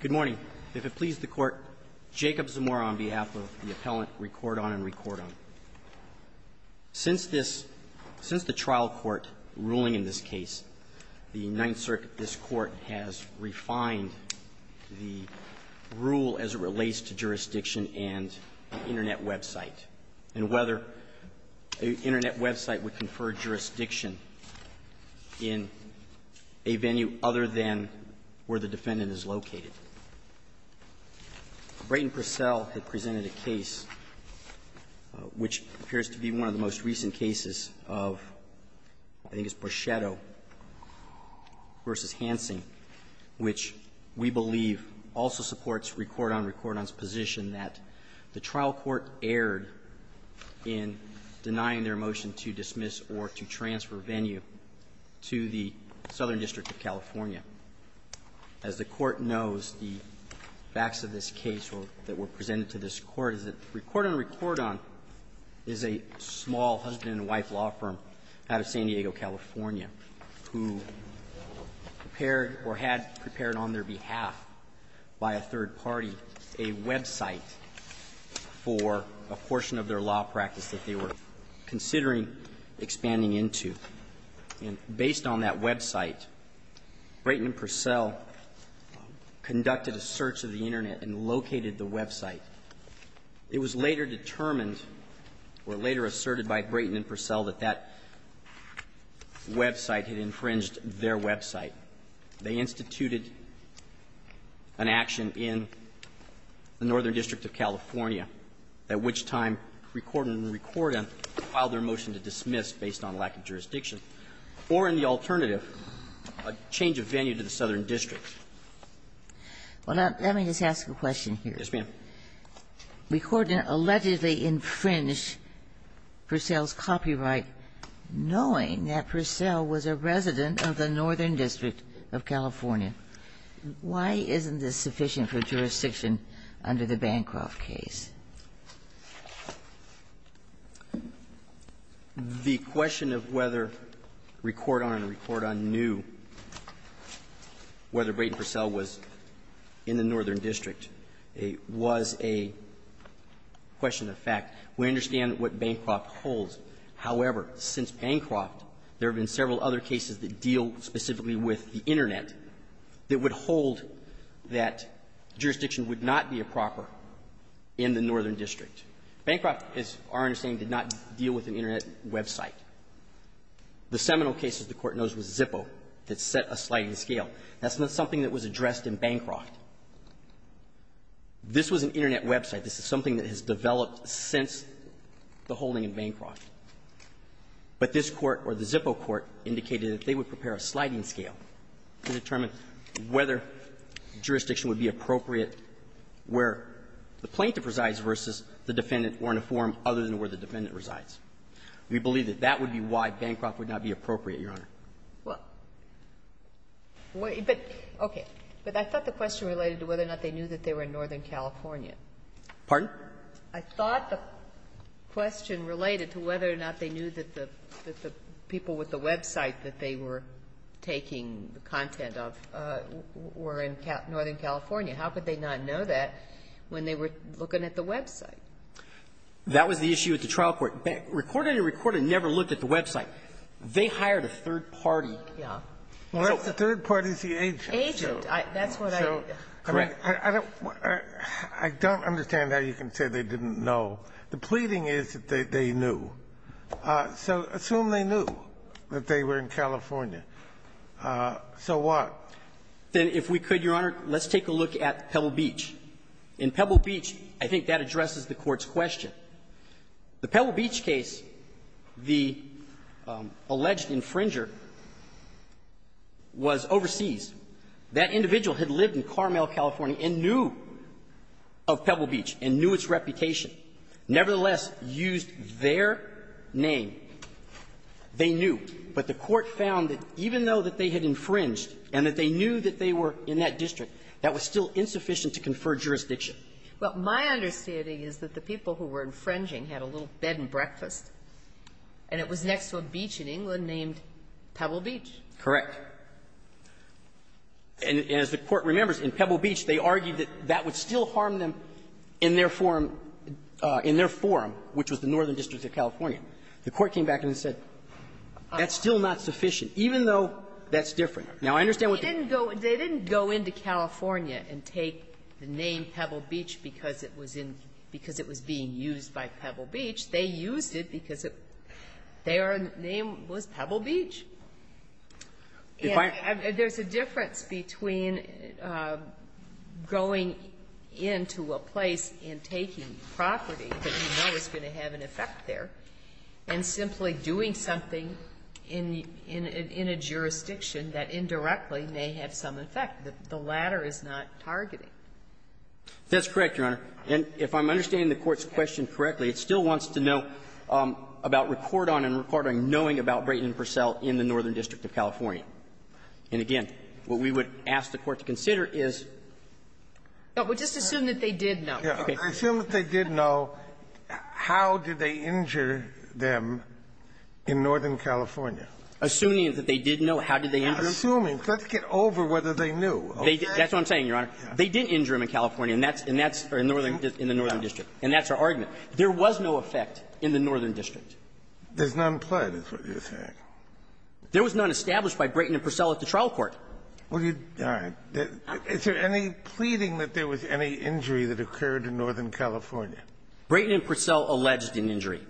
Good morning. If it pleases the Court, Jacob Zamora on behalf of the appellant, Recordon & Recordon. Since this, since the trial court ruling in this case, the Ninth Circuit, this court has refined the rule as it relates to jurisdiction and Internet website. And whether an Internet website would confer jurisdiction in a venue other than where the defendant is located. Brayton Purcell had presented a case which appears to be one of the most recent cases of, I think it's Borchetto v. Hansen, which we believe also supports Recordon & Recordon's position that the trial court erred in denying their motion to dismiss or to transfer venue to the Southern District of California. As the Court knows, the facts of this case that were presented to this Court is that Recordon & Recordon is a small husband-and-wife law firm out of San Diego, California, who prepared or had prepared on their behalf by a third party a website for a portion of their law practice that they were considering expanding into. And based on that website, Brayton Purcell conducted a search of the Internet and located the website. It was later determined, or later asserted by Brayton and Purcell, that that website had infringed their website. They instituted an action in the Northern District of California, at which time Recordon & Recordon filed their motion to dismiss based on lack of jurisdiction, or in the alternative, a change of venue to the Southern District. Well, let me just ask a question here. Yes, ma'am. Recordon allegedly infringed Purcell's copyright knowing that Purcell was a resident of the Northern District of California. Why isn't this sufficient for jurisdiction under the Bancroft case? The question of whether Recordon & Recordon knew whether Brayton and Purcell was in the Northern District was a question of fact. We understand what Bancroft holds. However, since Bancroft, there have been several other cases that deal specifically with the Internet that would hold that jurisdiction would not be a proper in the Northern District. Bancroft, as our understanding, did not deal with an Internet website. The seminal case, as the Court knows, was Zippo that set a sliding scale. That's not something that was addressed in Bancroft. This was an Internet website. This is something that has developed since the holding in Bancroft. But this Court or the Zippo Court indicated that they would prepare a sliding scale to determine whether jurisdiction would be appropriate where the plaintiff resides versus the defendant or in a forum other than where the defendant resides. We believe that that would be why Bancroft would not be appropriate, Your Honor. Well, but okay. But I thought the question related to whether or not they knew that they were in Northern California. Pardon? I thought the question related to whether or not they knew that the people with the website that they were taking the content of were in Northern California. How could they not know that when they were looking at the website? That was the issue at the trial court. Recorded and recorded never looked at the website. They hired a third party. Yeah. Well, that's the third party's the agent. Agent. That's what I. Correct. I don't understand how you can say they didn't know. The pleading is that they knew. So assume they knew that they were in California. So what? Then if we could, Your Honor, let's take a look at Pebble Beach. In Pebble Beach, I think that addresses the Court's question. The Pebble Beach case, the alleged infringer was overseas. That individual had lived in Carmel, California, and knew of Pebble Beach and knew its reputation, nevertheless used their name. They knew. But the Court found that even though that they had infringed and that they knew that they were in that district, that was still insufficient to confer jurisdiction. Well, my understanding is that the people who were infringing had a little bed and breakfast, and it was next to a beach in England named Pebble Beach. Correct. And as the Court remembers, in Pebble Beach, they argued that that would still harm them in their forum, in their forum, which was the Northern District of California. The Court came back and said that's still not sufficient, even though that's different. Now, I understand what they're saying. They named Pebble Beach because it was being used by Pebble Beach. They used it because their name was Pebble Beach. And there's a difference between going into a place and taking property that you know is going to have an effect there, and simply doing something in a jurisdiction that indirectly may have some effect. The latter is not targeting. That's correct, Your Honor. And if I'm understanding the Court's question correctly, it still wants to know about report on and report on knowing about Brayton and Purcell in the Northern District of California. And again, what we would ask the Court to consider is just assume that they did know. Assume that they did know, how did they injure them in Northern California? Assuming that they did know, how did they injure them? Assuming, let's get over whether they knew. That's what I'm saying, Your Honor. They did injure them in California, and that's in the Northern District, and that's our argument. There was no effect in the Northern District. There's none pled, is what you're saying. There was none established by Brayton and Purcell at the trial court. All right. Is there any pleading that there was any injury that occurred in Northern California? Brayton and Purcell alleged an injury.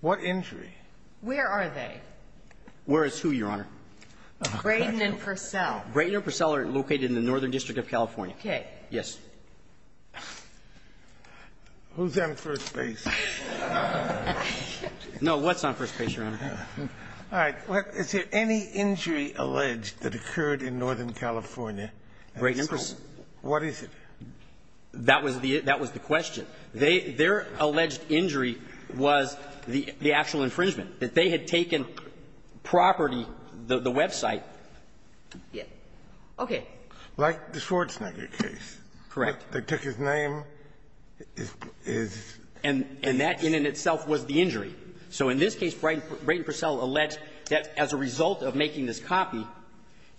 What injury? Where are they? Where is who, Your Honor? Brayton and Purcell. Brayton and Purcell are located in the Northern District of California. Okay. Yes. Who's on first base? No. What's on first base, Your Honor? All right. Is there any injury alleged that occurred in Northern California? Brayton and Purcell. What is it? That was the question. Their alleged injury was the actual infringement, that they had taken property from the website. Okay. Like the Schwarzenegger case. Correct. They took his name, his address. And that in and of itself was the injury. So in this case, Brayton and Purcell alleged that as a result of making this copy,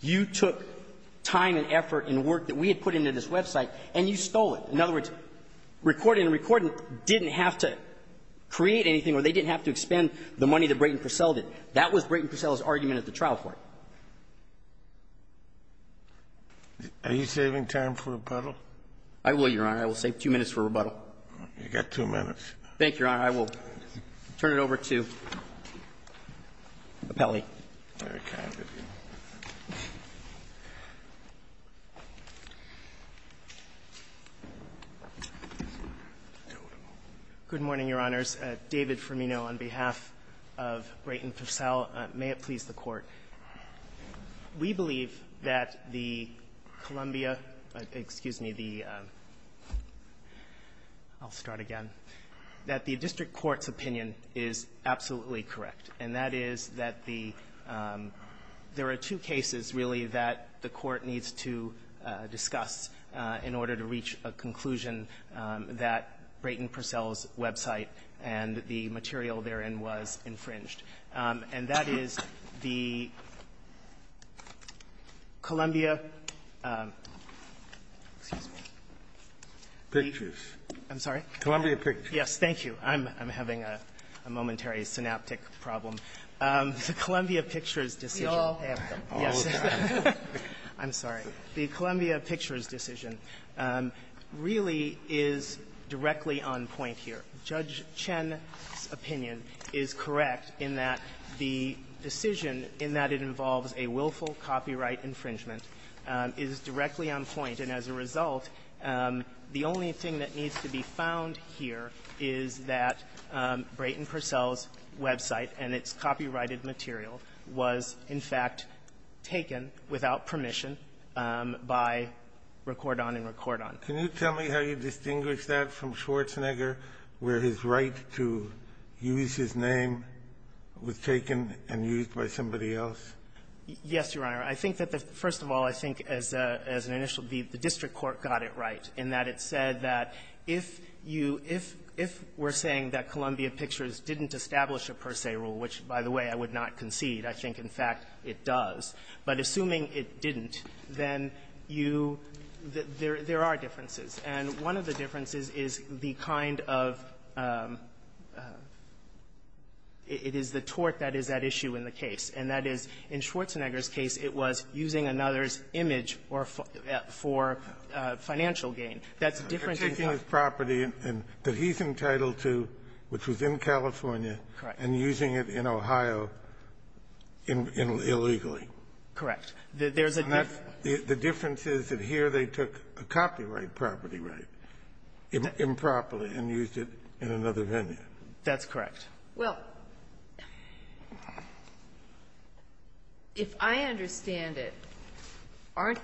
you took time and effort and work that we had put into this website, and you stole it. In other words, recording and recording didn't have to create anything or they didn't have to expend the money that Brayton and Purcell did. That was Brayton and Purcell's argument at the trial court. Are you saving time for rebuttal? I will, Your Honor. I will save two minutes for rebuttal. You've got two minutes. Thank you, Your Honor. I will turn it over to Appelli. Very kind of you. Good morning, Your Honors. David Firmino on behalf of Brayton Purcell. May it please the Court. We believe that the Columbia — excuse me, the — I'll start again — that the district court's opinion is absolutely correct, and that is that the — there are two cases, really, that the Court needs to discuss in order to reach a conclusion that Brayton Purcell's website and the material therein was infringed. And that is the Columbia — excuse me. Pictures. I'm sorry? Columbia Pictures. Yes. Thank you. I'm having a momentary synaptic problem. The Columbia Pictures decision — We all have them. All the time. I'm sorry. The Columbia Pictures decision really is directly on point here. Judge Chen's opinion is correct in that the decision, in that it involves a willful copyright infringement, is directly on point. And as a result, the only thing that needs to be found here is that Brayton Purcell's copyrighted material was, in fact, taken without permission by Recordon and Recordon. Can you tell me how you distinguish that from Schwarzenegger, where his right to use his name was taken and used by somebody else? Yes, Your Honor. I think that the — first of all, I think as an initial — the district court got it right in that it said that if you — if we're saying that Columbia Pictures didn't establish a per se rule, which, by the way, I would not concede. I think, in fact, it does. But assuming it didn't, then you — there are differences. And one of the differences is the kind of — it is the tort that is at issue in the case. And that is, in Schwarzenegger's case, it was using another's image or — for financial gain. That's a difference in terms of — You're taking his property that he's entitled to, which was in California — Correct. — and using it in Ohio illegally. Correct. There's a difference. The difference is that here they took a copyright property right improperly and used it in another venue. That's correct. Well, if I understand it, aren't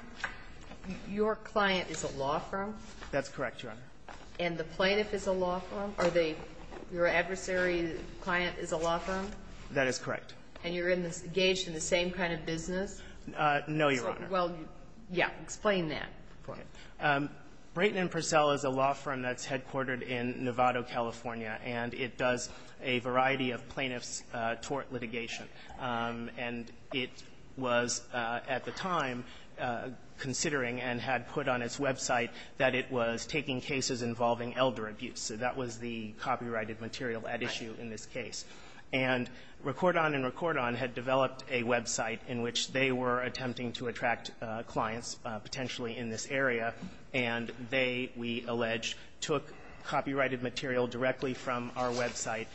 — your client is a law firm? That's correct, Your Honor. And the plaintiff is a law firm? Are they — your adversary client is a law firm? That is correct. And you're in this — engaged in the same kind of business? No, Your Honor. Well, yeah. Explain that for me. Brayton & Purcell is a law firm that's headquartered in Nevado, California. And it does a variety of plaintiff's tort litigation. And it was, at the time, considering and had put on its website that it was taking cases involving elder abuse. So that was the copyrighted material at issue in this case. And Recordon & Recordon had developed a website in which they were attempting to attract clients, potentially in this area. And they, we allege, took copyrighted material directly from our website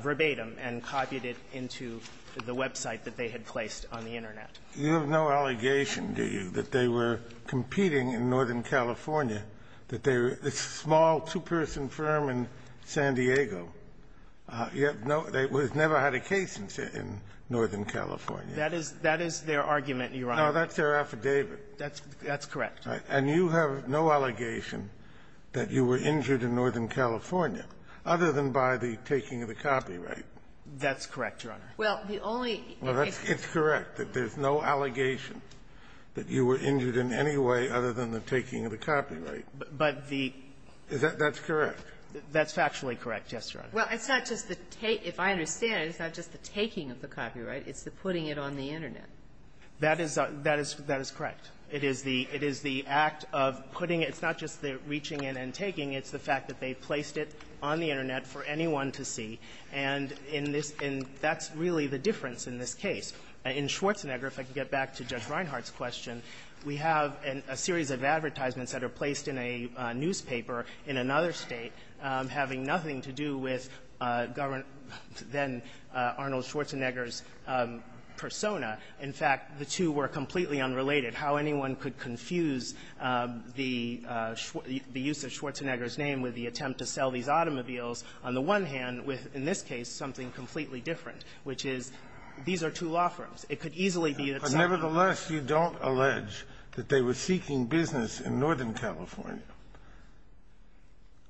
verbatim and copied it into the website that they had placed on the Internet. You have no allegation, do you, that they were competing in Northern California, that they were — it's a small, two-person firm in San Diego. You have no — they never had a case in Northern California. That is — that is their argument, Your Honor. No, that's their affidavit. That's correct. And you have no allegation that you were injured in Northern California, other than by the taking of the copyright? That's correct, Your Honor. Well, the only — Well, that's — it's correct that there's no allegation that you were injured in any way other than the taking of the copyright. But the — That's correct. That's factually correct, yes, Your Honor. Well, it's not just the — if I understand it, it's not just the taking of the copyright. It's the putting it on the Internet. That is — that is — that is correct. It is the — it is the act of putting — it's not just the reaching in and taking. It's the fact that they placed it on the Internet for anyone to see. And in this — and that's really the difference in this case. In Schwarzenegger, if I can get back to Judge Reinhardt's question, we have a series of advertisements that are placed in a newspaper in another State having nothing to do with Governor — then Arnold Schwarzenegger's persona. In fact, the two were completely unrelated. How anyone could confuse the — the use of Schwarzenegger's name with the attempt to sell these automobiles, on the one hand, with, in this case, something completely different, which is these are two law firms. It could easily be that someone — But, nevertheless, you don't allege that they were seeking business in Northern California.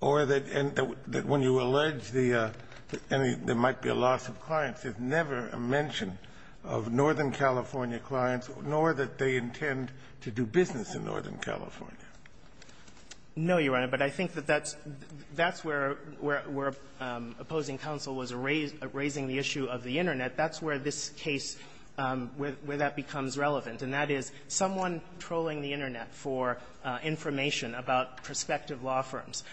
You don't allege the — any — there might be a loss of clients. There's never a mention of Northern California clients, nor that they intend to do business in Northern California. No, Your Honor. But I think that that's — that's where — where — where opposing counsel was erasing the issue of the Internet. That's where this case — where that becomes relevant. And that is, someone trolling the Internet for information about prospective law firms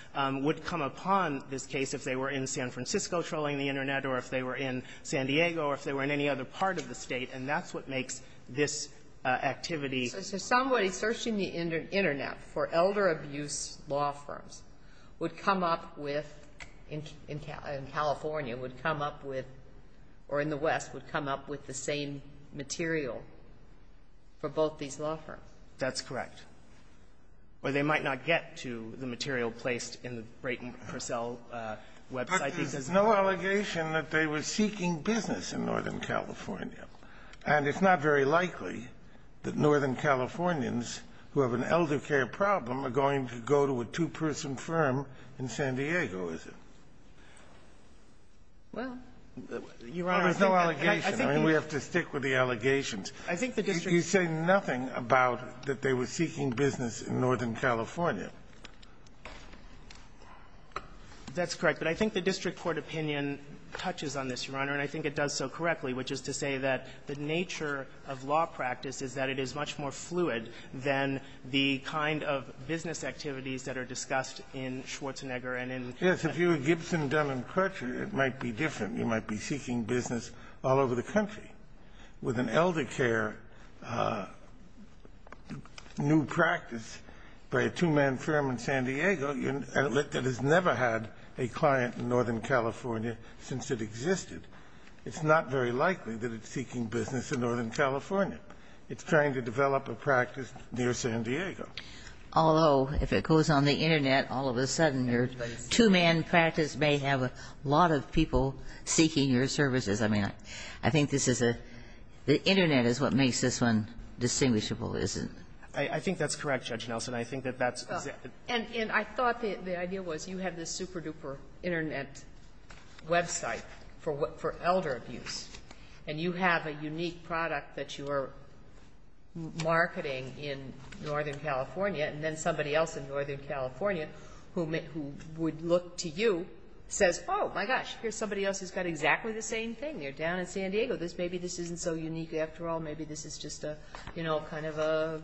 would come upon this case if they were in San Francisco trolling the Internet or if they were in San Diego or if they were in any other part of the State. And that's what makes this activity — So somebody searching the Internet for elder abuse law firms would come up with — in California would come up with — or in the West would come up with the same material for both these law firms. That's correct. Or they might not get to the material placed in the Brayton Purcell website. But there's no allegation that they were seeking business in Northern California. And it's not very likely that Northern Californians who have an elder care problem are going to go to a two-person firm in San Diego, is it? Well, Your Honor, I think that — There's no allegation. I mean, we have to stick with the allegations. I think the district — You say nothing about that they were seeking business in Northern California. That's correct. But I think the district court opinion touches on this, Your Honor, and I think it does so correctly, which is to say that the nature of law practice is that it is much more fluid than the kind of business activities that are discussed in Schwarzenegger and in — Yes. If you were Gibson, Dunlap, Crutcher, it might be different. You might be seeking business all over the country. With an elder care new practice by a two-man firm in San Diego that has never had a client in Northern California since it existed, it's not very likely that it's seeking business in Northern California. It's trying to develop a practice near San Diego. Although, if it goes on the Internet, all of a sudden your two-man practice may have a lot of people seeking your services. I mean, I think this is a — the Internet is what makes this one distinguishable, isn't it? I think that's correct, Judge Nelson. I think that that's — And I thought the idea was you have this super-duper Internet website for elder abuse, and you have a unique product that you are marketing in Northern California, and then somebody else in Northern California who would look to you says, oh, my gosh, here's somebody else who's got exactly the same thing. They're down in San Diego. Maybe this isn't so unique after all. Maybe this is just a, you know, kind of a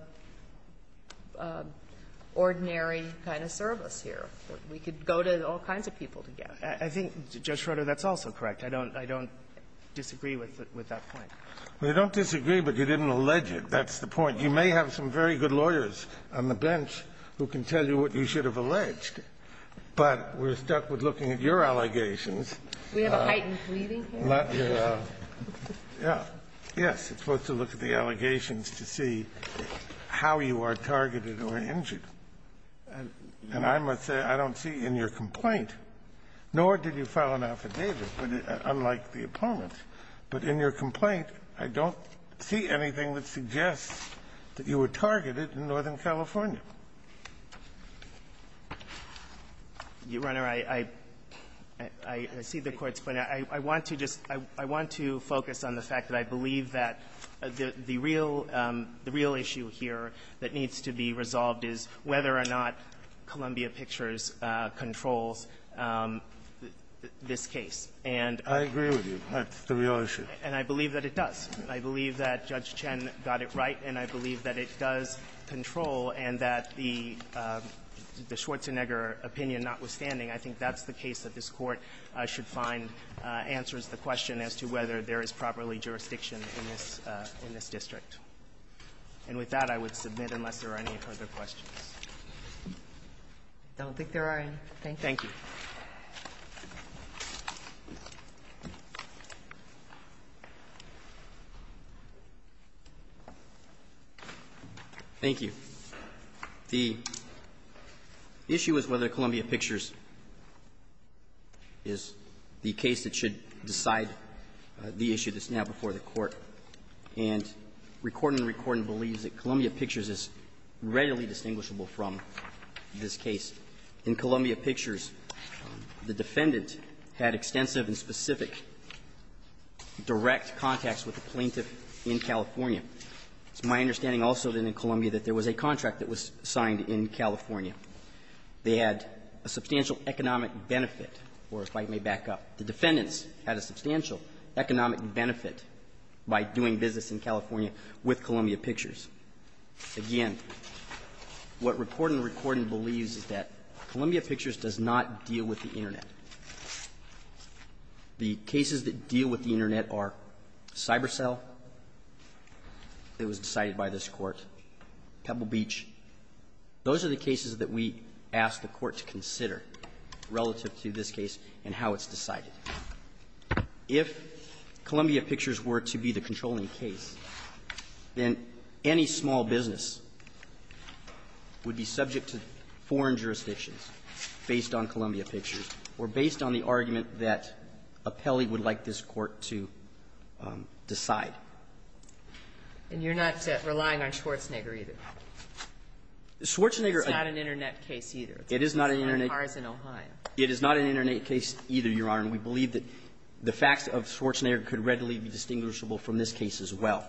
ordinary kind of service here. We could go to all kinds of people together. I think, Judge Schroeder, that's also correct. I don't — I don't disagree with that point. We don't disagree, but you didn't allege it. That's the point. You may have some very good lawyers on the bench who can tell you what you should have alleged, but we're stuck with looking at your allegations. Do we have a heightened pleading here? Let your — yes. It's supposed to look at the allegations to see how you are targeted or injured. And I must say, I don't see in your complaint, nor did you file an affidavit, but unlike the opponents, but in your complaint, I don't see anything that suggests that you were targeted in Northern California. Your Honor, I — I see the Court's point. I want to just — I want to focus on the fact that I believe that the real — the real issue here that needs to be resolved is whether or not Columbia Pictures controls this case, and — I agree with you. That's the real issue. And I believe that it does. I believe that Judge Chen got it right, and I believe that it does control, and that the — the Schwarzenegger opinion notwithstanding, I think that's the case that this Court should find answers the question as to whether there is properly jurisdiction in this — in this district. And with that, I would submit unless there are any further questions. I don't think there are any. Thank you. Thank you. Thank you. The issue is whether Columbia Pictures is the case that should decide the issue that's now before the Court, and recording and recording believes that Columbia Pictures is readily distinguishable from this case. The defendant had extensive and specific direct contacts with the plaintiff in California. It's my understanding also, then, in Columbia that there was a contract that was signed in California. They had a substantial economic benefit, or if I may back up, the defendants had a substantial economic benefit by doing business in California with Columbia Pictures. Again, what recording and recording believes is that Columbia Pictures does not deal with the Internet. The cases that deal with the Internet are CyberCell. It was decided by this Court. Pebble Beach. Those are the cases that we ask the Court to consider relative to this case and how it's decided. If Columbia Pictures were to be the controlling case, then any small business would be subject to foreign jurisdictions based on Columbia Pictures or based on the argument that Apelli would like this Court to decide. And you're not relying on Schwarzenegger, either? Schwarzenegger isn't an Internet case, either. It is not an Internet case. It is not an Internet case, either, Your Honor, and we believe that the facts of Schwarzenegger could readily be distinguishable from this case as well.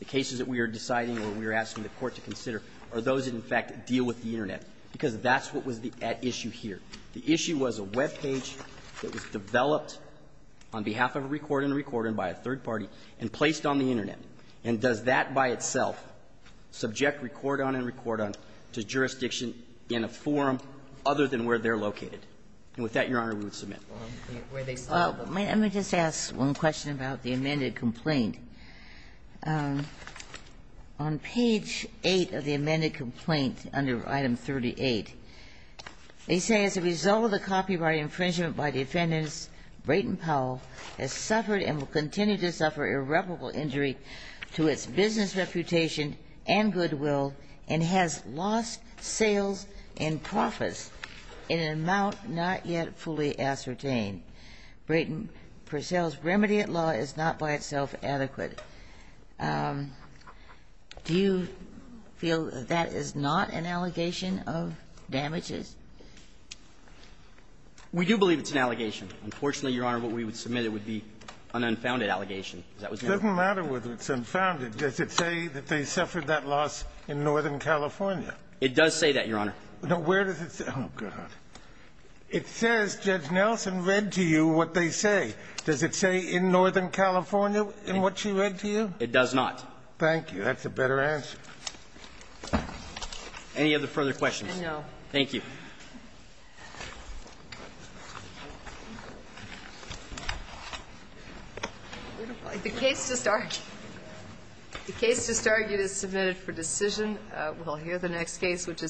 The cases that we are deciding or we are asking the Court to consider are those that, in fact, deal with the Internet, because that's what was at issue here. The issue was a web page that was developed on behalf of a recorder and a recorder and by a third party and placed on the Internet. And does that by itself subject record-on and record-on to jurisdiction in a forum other than where they're located? And with that, Your Honor, we would submit. Let me just ask one question about the amended complaint. On page 8 of the amended complaint under item 38, they say, as a result of the copyright infringement by the defendants, Brayton Powell has suffered and will continue to suffer irreparable injury to its business reputation and goodwill and has lost sales and profits in an amount not yet fully ascertained. Brayton Powell's remedy at law is not by itself adequate. Do you feel that that is not an allegation of damages? We do believe it's an allegation. Unfortunately, Your Honor, what we would submit would be an unfounded allegation. It doesn't matter whether it's unfounded. Does it say that they suffered that loss in Northern California? It does say that, Your Honor. Now, where does it say? Oh, God. It says Judge Nelson read to you what they say. Does it say in Northern California in what she read to you? It does not. Thank you. That's a better answer. Any other further questions? No. Thank you. The case just argued is submitted for decision. We'll hear the next case, which is